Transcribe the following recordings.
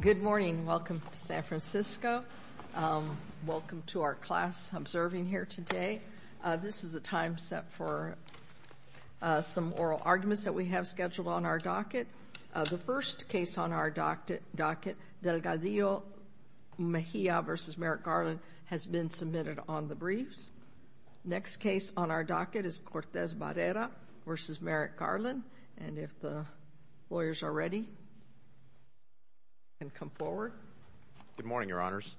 Good morning. Welcome to San Francisco. Welcome to our class observing here today. This is the time set for some oral arguments that we have scheduled on our docket. The first case on our docket, Delgadillo-Mejia v. Merrick-Garland, has been submitted on the briefs. Next case on our docket is Cortez-Barrera v. Merrick-Garland. And if the lawyers are ready, you can come forward. Sean Perdomo Good morning, Your Honors.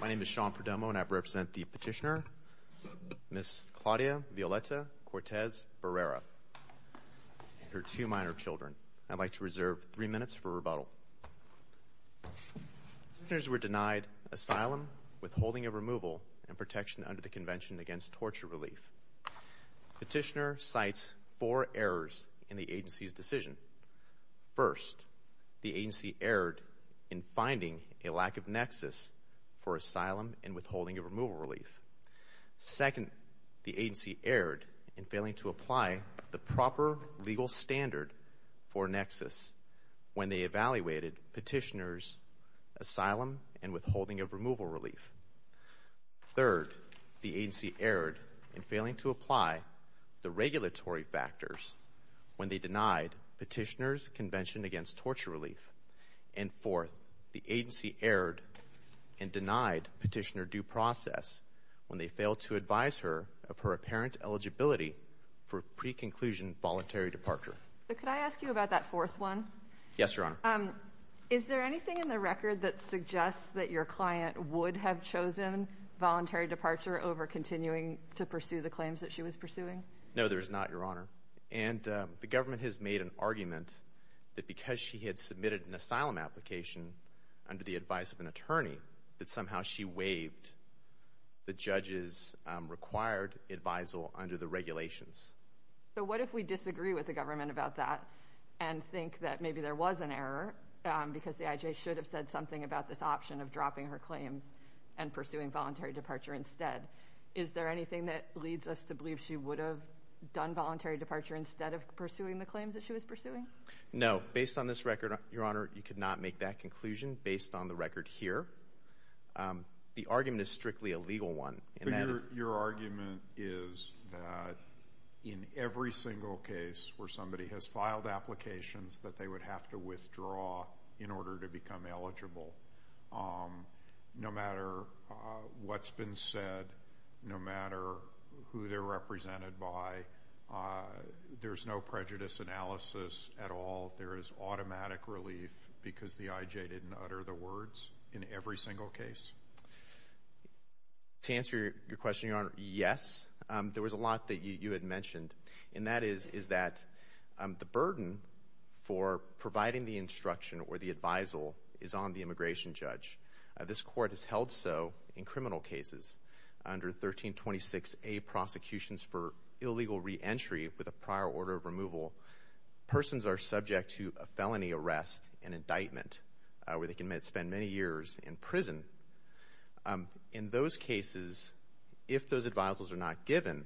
My name is Sean Perdomo and I represent the petitioner, Ms. Claudia Violeta Cortez-Barrera and her two minor children. I'd like to reserve three minutes for rebuttal. Petitioners were denied asylum, withholding of removal, and protection under the Convention Against Torture Relief. Petitioner cites four errors in the agency's decision. First, the agency erred in finding a lack of nexus for asylum and withholding of removal relief. Second, the agency erred in failing to apply the proper legal standard for nexus when they evaluated petitioner's withholding of removal relief. Third, the agency erred in failing to apply the regulatory factors when they denied petitioner's Convention Against Torture Relief. And fourth, the agency erred and denied petitioner due process when they failed to advise her of her apparent eligibility for pre-conclusion voluntary departure. So could I ask you about that fourth one? Yes, Your Honor. Is there anything in the record that suggests that your client would have chosen voluntary departure over continuing to pursue the claims that she was pursuing? No, there is not, Your Honor. And the government has made an argument that because she had submitted an asylum application under the advice of an attorney, that somehow she waived the judge's required advisal under the regulations. But what if we disagree with the government about that and think that maybe there was an error because the IJ should have said something about this option of dropping her claims and pursuing voluntary departure instead? Is there anything that leads us to believe she would have done voluntary departure instead of pursuing the claims that she was pursuing? No. Based on this record, Your Honor, you could not make that conclusion based on the record here. The argument is strictly a legal one. Your argument is that in every single case where somebody has filed applications that they would have to withdraw in order to become eligible, no matter what's been said, no matter who they're represented by, there's no prejudice analysis at all. There is automatic relief because the IJ didn't utter the words in every single case? To answer your question, Your Honor, yes. There was a lot that you had mentioned, and that is that the burden for providing the instruction or the advisal is on the immigration judge. This Court has held so in criminal cases. Under 1326A, Prosecutions for Illegal Reentry with a Prior Order of Removal, persons are subject to a felony arrest and indictment where they can spend many years in prison. In those cases, if those advisals are not given,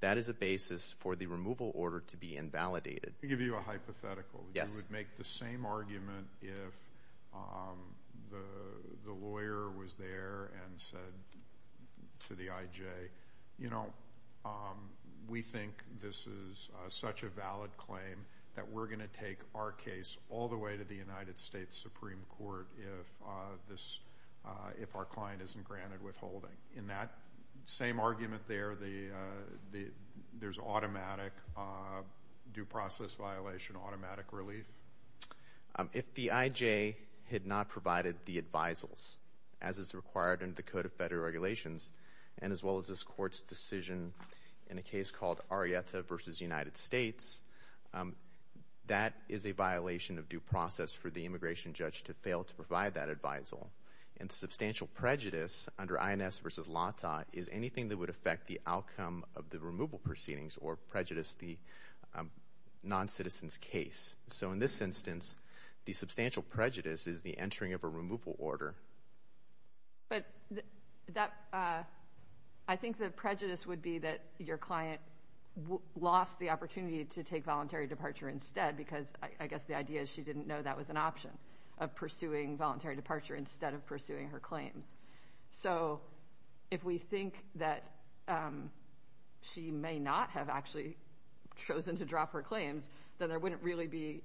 that is a basis for the removal order to be invalidated. Let me give you a hypothetical. You would make the same argument if the lawyer was there and said to the IJ, you know, we think this is such a valid claim that we're going to make our case all the way to the United States Supreme Court if our client isn't granted withholding. In that same argument there, there's automatic due process violation, automatic relief? If the IJ had not provided the advisals, as is required under the Code of Federal Regulations, and as well as this Court's decision in a case called Arrieta v. United States, that is a violation of due process for the immigration judge to fail to provide that advisal. And substantial prejudice under INS v. LATA is anything that would affect the outcome of the removal proceedings or prejudice the noncitizen's case. So in this instance, the substantial prejudice is the entering of a removal order. But that, I think the prejudice would be that your client lost the opportunity to take voluntary departure instead because I guess the idea is she didn't know that was an option of pursuing voluntary departure instead of pursuing her claims. So if we think that she may not have actually chosen to drop her claims, then there wouldn't really be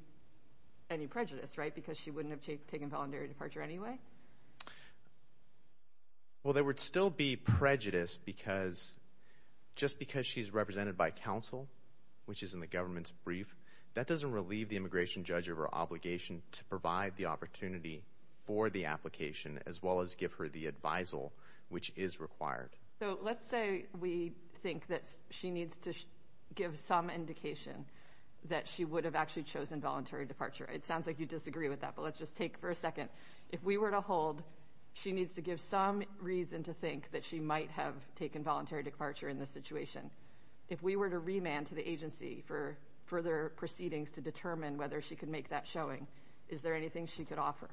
any prejudice, right, because she wouldn't have taken voluntary departure anyway? Well, there would still be prejudice because just because she's represented by counsel, which is in the government's brief, that doesn't relieve the immigration judge of her obligation to provide the opportunity for the application, as well as give her the advisal, which is required. So let's say we think that she needs to give some indication that she would have actually chosen voluntary departure. It sounds like you disagree with that, but let's just take for a second. If we were to hold, she needs to give some reason to think that she might have taken voluntary departure in this situation. If we were to remand to the agency for further proceedings to determine whether she could make that showing, is there anything she could offer?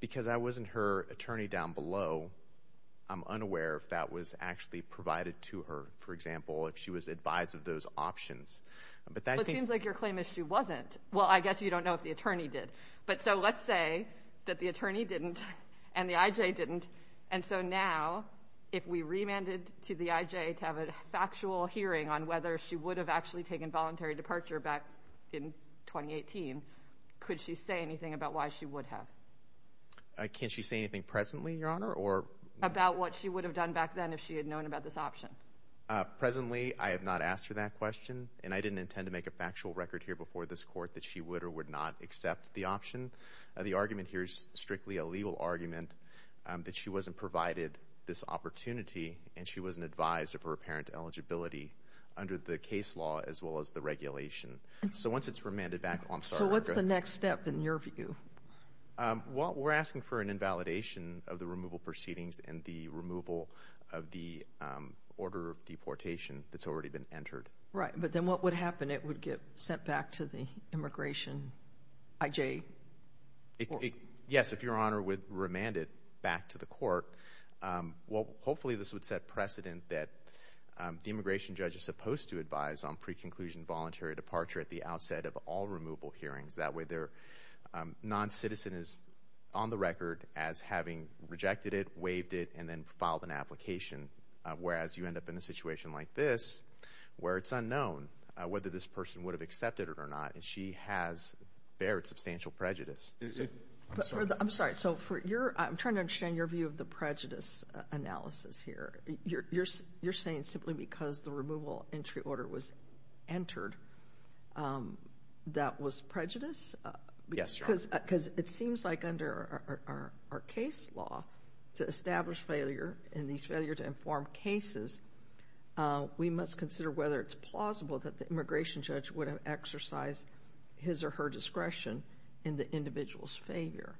Because I wasn't her attorney down below, I'm unaware if that was actually provided to her, for example, if she was advised of those options. It seems like your claim is she wasn't. Well, I guess you don't know if the attorney did. But so let's say that the attorney didn't and the IJ didn't, and so now if we remanded to the IJ to have a factual hearing on whether she would have actually taken voluntary departure back in 2018, could she say anything about why she would have? Can she say anything presently, Your Honor? About what she would have done back then if she had known about this option? Presently, I have not asked her that question, and I didn't intend to make a factual record here before this court that she would or would not accept the option. The argument here is strictly a legal argument that she wasn't provided this opportunity and she wasn't advised of her apparent eligibility under the case law as well as the regulation. So once it's remanded back, I'm sorry. So what's the next step in your view? Well, we're asking for an invalidation of the removal proceedings and the removal of the order of deportation that's already been entered. Right, but then what would happen? It would get sent back to the immigration IJ? Yes, if Your Honor would remand it back to the court. Well, hopefully this would set precedent that the immigration judge is supposed to advise on pre-conclusion voluntary departure at the outset of all removal hearings. That way their non-citizen is on the record as having rejected it, waived it, and then filed an application. Whereas you end up in a situation like this where it's unknown whether this person would have accepted it or not, and she has bared substantial prejudice. I'm sorry. I'm trying to understand your view of the prejudice analysis here. You're saying simply because the removal entry order was entered, that was prejudice? Yes, Your Honor. Because it seems like under our case law to establish failure, and these failure to inform cases, we must consider whether it's plausible that the immigration judge would have exercised his or her discretion in the individual's failure.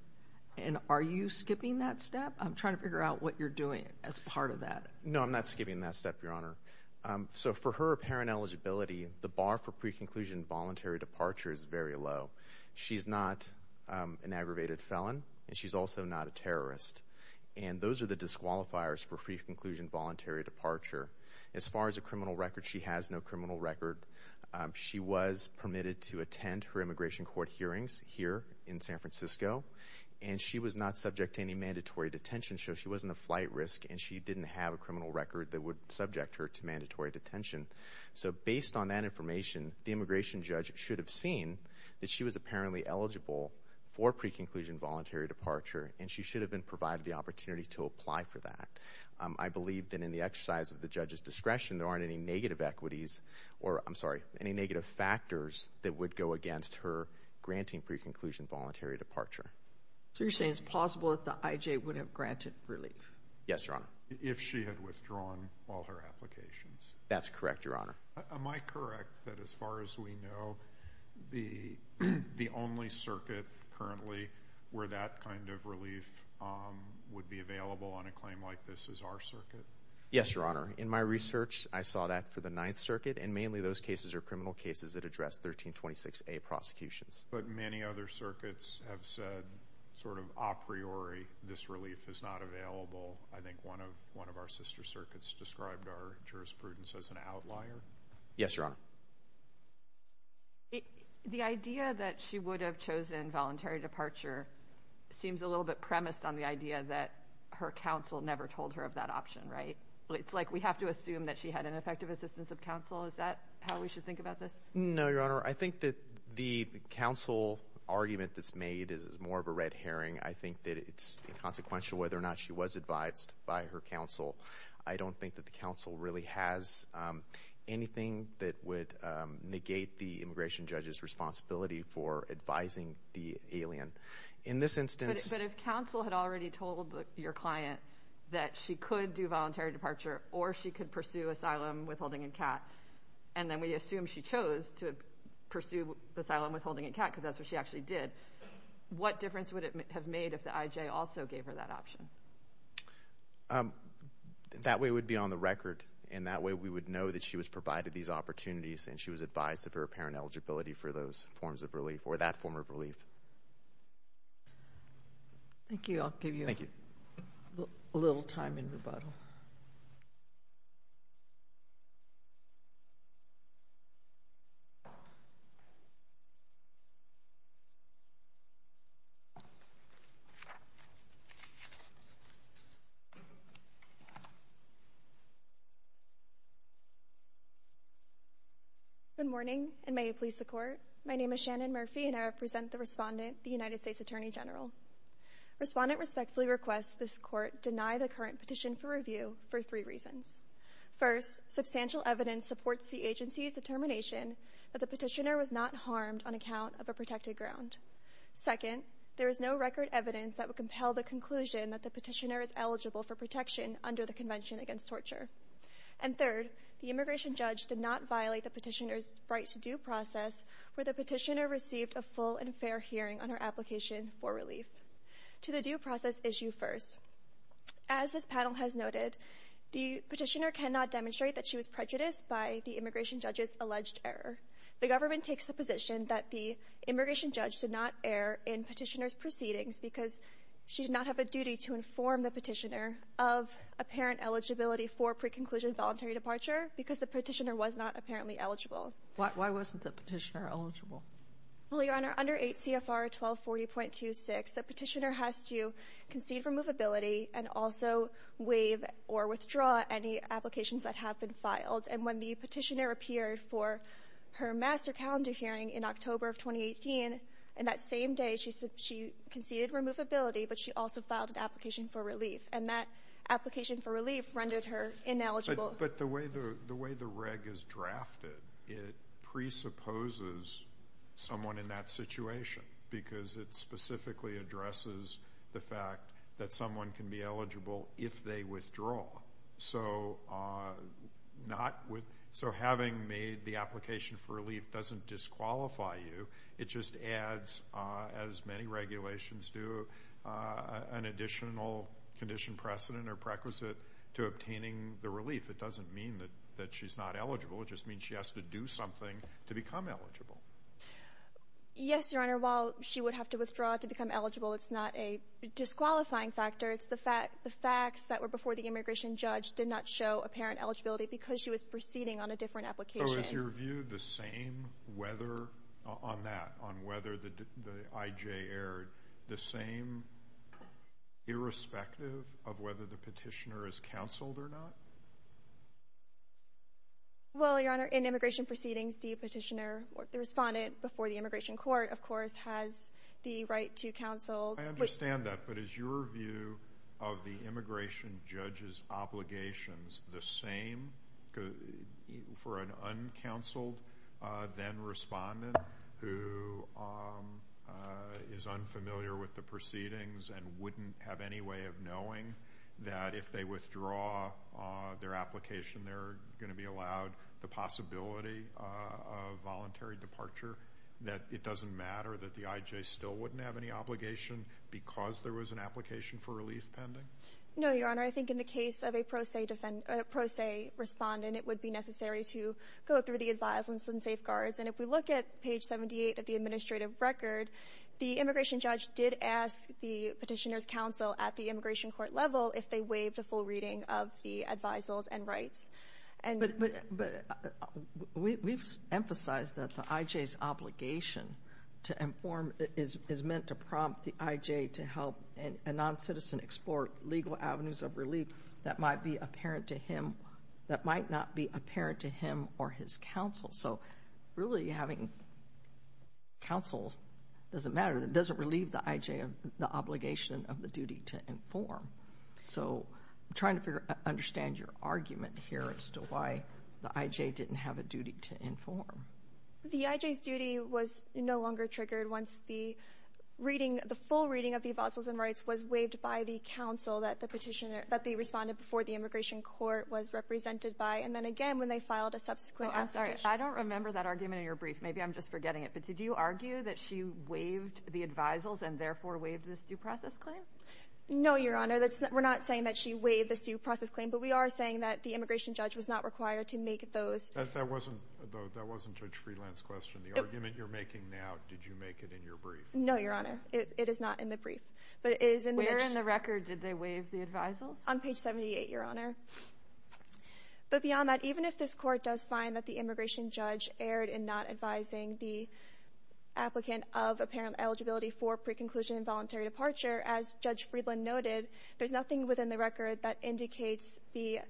And are you skipping that step? I'm trying to figure out what you're doing as part of that. No, I'm not skipping that step, Your Honor. So for her apparent eligibility, the bar for pre-conclusion voluntary departure is very low. She's not an aggravated felon, and she's also not a terrorist. And those are the disqualifiers for pre-conclusion voluntary departure. As far as a criminal record, she has no criminal record. She was permitted to attend her immigration court hearings here in San Francisco, and she was not subject to any mandatory detention. So she wasn't a flight risk, and she didn't have a criminal record that would subject her to mandatory detention. So based on that information, the immigration judge should have seen that she was apparently eligible for pre-conclusion voluntary departure, and she should have been provided the opportunity to apply for that. I believe that in the exercise of the judge's discretion, there aren't any negative equities, or I'm sorry, any negative factors that would go against her granting pre-conclusion voluntary departure. So you're saying it's plausible that the IJ would have granted relief? Yes, Your Honor. If she had withdrawn all her applications? That's correct, Your Honor. Am I correct that as far as we know, the only circuit currently where that kind of relief would be available on a claim like this is our circuit? Yes, Your Honor. In my research, I saw that for the Ninth Circuit, and mainly those cases are criminal cases that is not available. I think one of our sister circuits described our jurisprudence as an outlier. Yes, Your Honor. The idea that she would have chosen voluntary departure seems a little bit premised on the idea that her counsel never told her of that option, right? It's like we have to assume that she had an effective assistance of counsel. Is that how we should think about this? No, Your Honor. I think that the counsel argument that's made is more of a red herring. I think that it's inconsequential whether or not she was advised by her counsel. I don't think that the counsel really has anything that would negate the immigration judge's responsibility for advising the alien. In this instance... But if counsel had already told your client that she could do voluntary departure or she could pursue asylum withholding and CAT, and then we assume she chose to pursue asylum withholding and CAT because that's what she actually did, what difference would it have made if the IJ also gave her that option? That way it would be on the record and that way we would know that she was provided these opportunities and she was advised of her apparent eligibility for those forms of relief or that form of relief. Thank you. I'll give you a little time in rebuttal. Good morning and may it please the Court. My name is Shannon Murphy and I represent the Respondent, the United States Attorney General. Respondent respectfully requests this Court deny the current petition for review for three reasons. First, substantial evidence supports the agency's determination that the petitioner was not harmed on account of a protected ground. Second, there is no record evidence that would compel the conclusion that the petitioner is eligible for protection under the Convention Against Torture. And third, the immigration judge did not violate the petitioner's right to due process where the petitioner received a full and fair hearing on her application for relief. To the due process issue first. As this panel has noted, the petitioner cannot demonstrate that she was prejudiced by the immigration judge's did not err in petitioner's proceedings because she did not have a duty to inform the petitioner of apparent eligibility for pre-conclusion voluntary departure because the petitioner was not apparently eligible. Why wasn't the petitioner eligible? Well, Your Honor, under 8 CFR 1240.26, the petitioner has to concede removability and also waive or withdraw any applications that have been filed. And when the petitioner appeared for her master calendar hearing in October of 2018, in that same day, she conceded removability, but she also filed an application for relief. And that application for relief rendered her ineligible. But the way the reg is drafted, it presupposes someone in that situation because it specifically addresses the fact that someone can be eligible if they withdraw. So having made the application for relief doesn't disqualify you. It just adds, as many regulations do, an additional condition precedent or prequisite to obtaining the relief. It doesn't mean that she's not eligible. It just means she has to do something to become eligible. Yes, Your Honor. While she would have to withdraw to become eligible, it's not a disqualifying factor. It's the fact the facts that were before the immigration judge did not show apparent eligibility because she was whether on that, on whether the IJ erred, the same irrespective of whether the petitioner is counseled or not? Well, Your Honor, in immigration proceedings, the petitioner or the respondent before the immigration court, of course, has the right to counsel. I understand that. But is your of the immigration judge's obligations the same for an uncounseled then respondent who is unfamiliar with the proceedings and wouldn't have any way of knowing that if they withdraw their application, they're going to be allowed the possibility of voluntary departure? That it doesn't matter that the IJ still wouldn't have any obligation because there was an application for relief pending? No, Your Honor. I think in the case of a pro se respondent, it would be necessary to go through the advisals and safeguards. And if we look at page 78 of the administrative record, the immigration judge did ask the petitioner's counsel at the immigration court level if they waived a full reading of the advisals and rights. But we've emphasized that the IJ's obligation to inform is meant to prompt the IJ to help a non-citizen explore legal avenues of relief that might be apparent to him, that might not be apparent to him or his counsel. So really, having counsel doesn't matter. It doesn't relieve the IJ of the obligation of the duty to inform. So I'm trying to understand your argument here as to why the IJ didn't have a duty to inform. The IJ's duty was no longer triggered once the reading, the full reading of the advisals and rights was waived by the counsel that the petitioner, that they responded before the immigration court was represented by. And then again, when they filed a subsequent application. Oh, I'm sorry. I don't remember that argument in your brief. Maybe I'm just forgetting it. But did you argue that she waived the advisals and therefore waived this due process claim? No, Your Honor. We're not saying that she waived this due process claim, but we are saying that the immigration judge was not required to make those. That wasn't, though, that wasn't Judge Friedland's question. The argument you're making now, did you make it in your brief? No, Your Honor. It is not in the brief. But it is in the brief. Where in the record did they waive the advisals? On page 78, Your Honor. But beyond that, even if this Court does find that the immigration judge erred in not advising the applicant of apparent eligibility for pre-conclusion involuntary departure, as Judge Friedland noted, there's nothing within the record that indicates the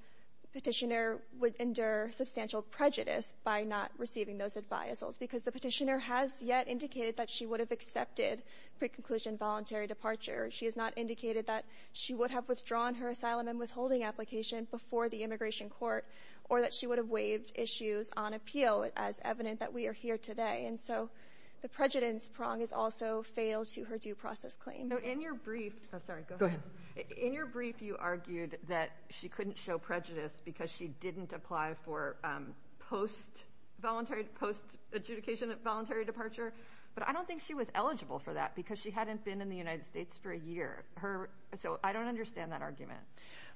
Petitioner would endure substantial prejudice by not receiving those advisals, because the Petitioner has yet indicated that she would have accepted pre-conclusion voluntary departure. She has not indicated that she would have withdrawn her asylum and withholding application before the immigration court or that she would have waived issues on appeal, as evident that we are here today. And so the prejudice prong is also fatal to her due process claim. In your brief, you argued that she couldn't show prejudice because she didn't apply for post-adjudication voluntary departure. But I don't think she was eligible for that, because she hadn't been in the United States for a year. So I don't understand that argument.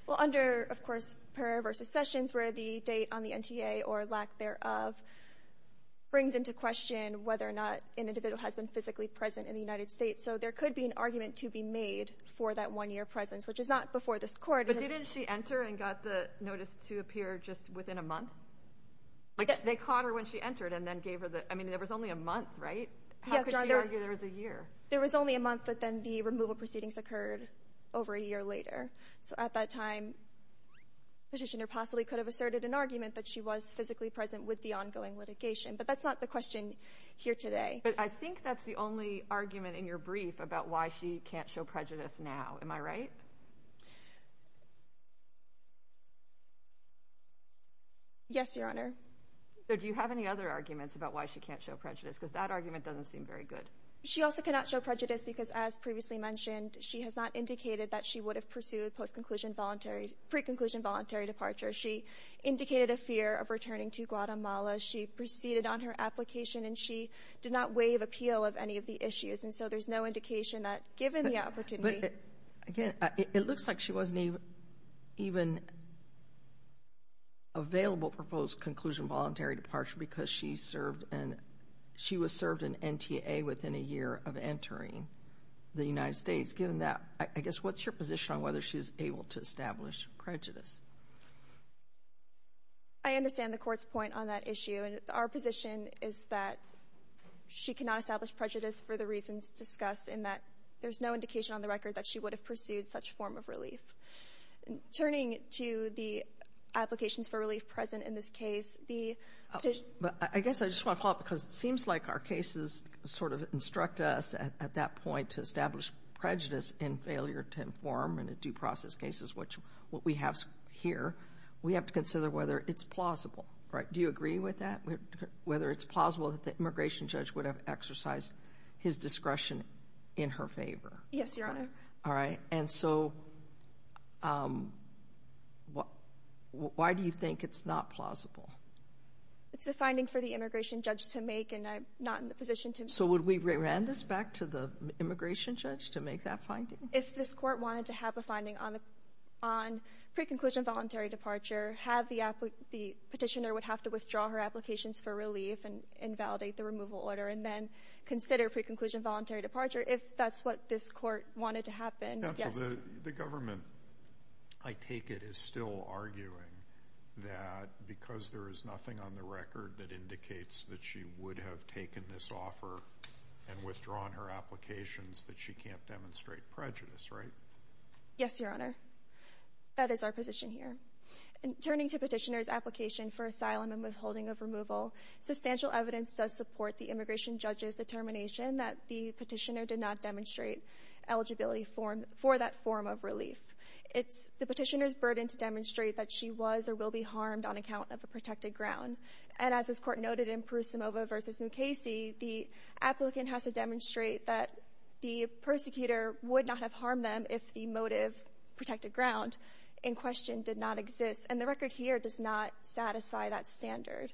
Well, under, of course, Pera v. Sessions, where the date on the NTA or lack thereof brings into question whether or not an individual has been physically present in the United States, so there could be an argument to be made for that one-year presence, which is not before this Court. But didn't she enter and got the notice to appear just within a month? Like, they caught her when she entered and then gave her the, I mean, there was only a month, right? How could she argue there was a year? There was only a month, but then the removal proceedings occurred over a year later. So at that time, Petitioner possibly could have asserted an argument that she was physically present with the ongoing litigation. But that's not the question here today. But I think that's the only argument in your brief about why she can't show prejudice now. Am I right? Yes, Your Honor. So do you have any other arguments about why she can't show prejudice? Because that argument doesn't seem very good. She also cannot show prejudice because, as previously mentioned, she has not indicated that she would have pursued post-conclusion voluntary, pre-conclusion voluntary departure. She indicated a fear of returning to Guatemala. She proceeded on her application and she did not waive appeal of any of the issues. And so there's no indication that, given the opportunity But, again, it looks like she wasn't even available for post-conclusion voluntary departure because she served in, she was served in NTA within a year of entering the United States. Given that, I guess, what's your position on whether she's able to establish prejudice? I understand the Court's point on that issue. And our position is that she cannot establish prejudice for the reasons discussed, and that there's no indication on the record that she would have pursued such form of relief. Turning to the applications for relief present in this case, the decision But I guess I just want to follow up because it seems like our cases sort of instruct us at that point to establish prejudice in failure to inform in a due process cases, which what we have here, we have to consider whether it's plausible, right? Do you agree with that? Whether it's plausible that the immigration judge would have exercised his discretion in her favor? Yes, Your Honor. All right. And so why do you think it's not plausible? It's a finding for the immigration judge to make, and I'm not in the position to So would we rerun this back to the immigration judge to make that finding? If this Court wanted to have a finding on pre-conclusion voluntary departure, have the petitioner would have to withdraw her applications for relief and validate the removal order, and then consider pre-conclusion voluntary departure. If that's what this Court wanted to happen, yes. Counsel, the government, I take it, is still arguing that because there is nothing on the record that indicates that she would have taken this offer and withdrawn her applications that she can't demonstrate prejudice, right? Yes, Your Honor. That is our position here. And turning to petitioner's application for asylum and withholding of removal, substantial evidence does support the immigration judge's determination that the petitioner did not demonstrate eligibility for that form of relief. It's the petitioner's burden to demonstrate that she was or will be harmed on account of a protected ground, and as this Court noted in Prusimova v. Mukasey, the applicant has to demonstrate that the persecutor would not have harmed them if the motive protected ground in question did not exist. And the record here does not satisfy that standard.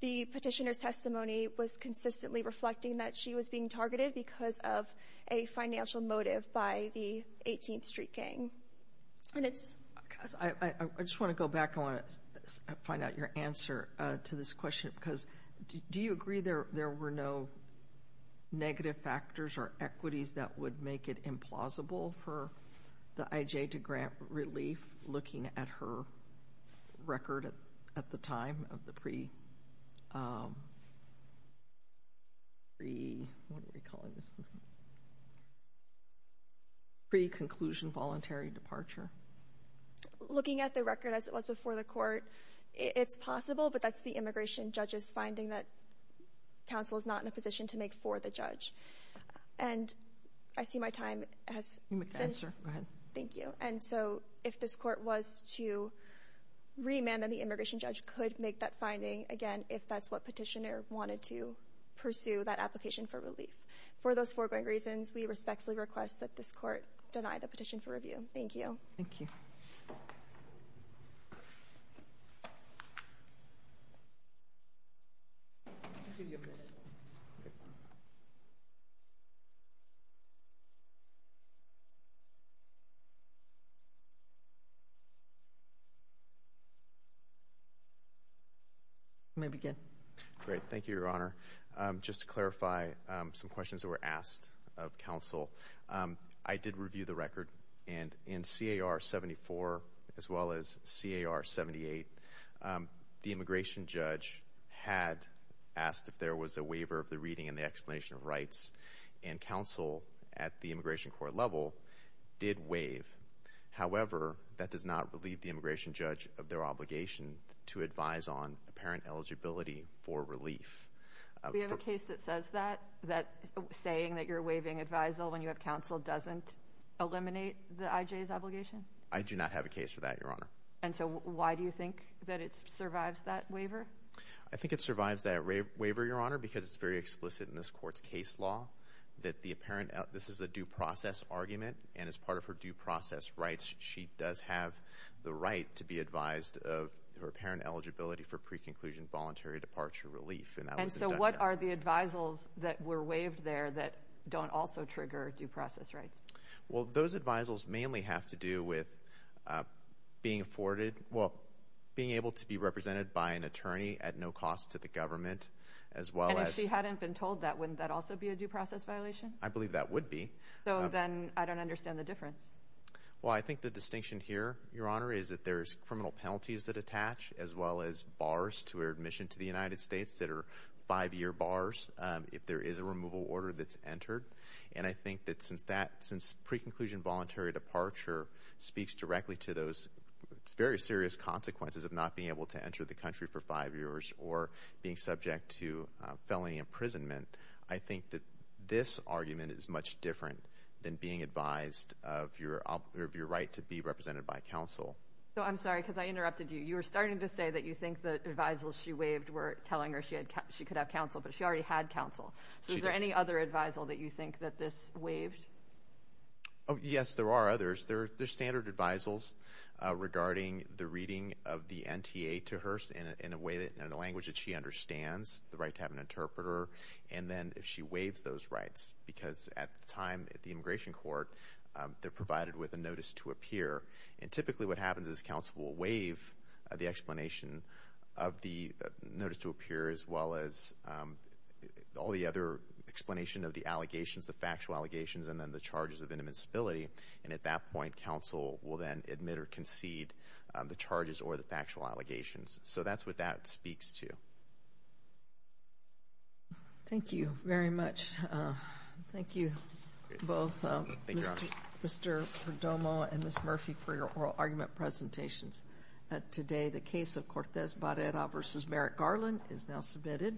The petitioner's testimony was consistently reflecting that she was being targeted because of a financial motive by the 18th Street gang. And it's… I just want to go back. I want to find out your answer to this question, because do you agree there were no negative factors or equities that would make it implausible for the IJ to grant relief looking at her record at the time of the pre-conclusion voluntary departure? Looking at the record as it was before the Court, it's possible, but that's the position to make for the judge. And I see my time has finished. Go ahead. Thank you. And so if this Court was to remand, then the immigration judge could make that finding, again, if that's what petitioner wanted to pursue that application for relief. For those foregoing reasons, we respectfully request that this Court deny the petition for review. Thank you. Thank you. You may begin. Great. Thank you, Your Honor. Just to clarify some questions that were asked of counsel, I did review the record. And in C.A.R. 74 as well as C.A.R. 78, the immigration judge had asked if there was a waiver of the reading and the explanation of rights, and counsel at the immigration court level did waive. However, that does not relieve the immigration judge of their obligation to advise on apparent eligibility for relief. We have a case that says that, that saying that you're waiving advisal when you have doesn't eliminate the I.J.'s obligation? I do not have a case for that, Your Honor. And so why do you think that it survives that waiver? I think it survives that waiver, Your Honor, because it's very explicit in this Court's case law that the apparent — this is a due process argument, and as part of her due process rights, she does have the right to be advised of her apparent eligibility for pre-conclusion voluntary departure relief. And so what are the advisals that were waived there that don't also trigger due process rights? Well, those advisals mainly have to do with being afforded — well, being able to be represented by an attorney at no cost to the government, as well as — And if she hadn't been told that, wouldn't that also be a due process violation? I believe that would be. So then I don't understand the difference. Well, I think the distinction here, Your Honor, is that there's criminal penalties that attach, as well as bars to her admission to the United States that are five-year bars if there is a removal order that's entered. And I think that since that — since pre-conclusion voluntary departure speaks directly to those very serious consequences of not being able to enter the country for five years or being subject to felony imprisonment, I think that this argument is much different than being advised of your right to be represented by counsel. So I'm sorry, because I interrupted you. You were starting to say that you think the advisals she waived were telling her she could have counsel, but she already had counsel. So is there any other advisal that you think that this waived? Oh, yes, there are others. There are standard advisals regarding the reading of the NTA to her in a way that — in a language that she understands, the right to have an interpreter, and then if she waives those rights. Because at the time at the immigration court, they're provided with a notice to appear. And typically what happens is counsel will waive the explanation of the notice to appear, as well as all the other explanation of the allegations, the factual allegations, and then the charges of inadmissibility. And at that point, counsel will then admit or concede the charges or the factual allegations. So that's what that speaks to. Thank you very much. Thank you both, Mr. Perdomo and Ms. Murphy, for your oral argument presentations today. The case of Cortez Barrera v. Merrick Garland is now submitted.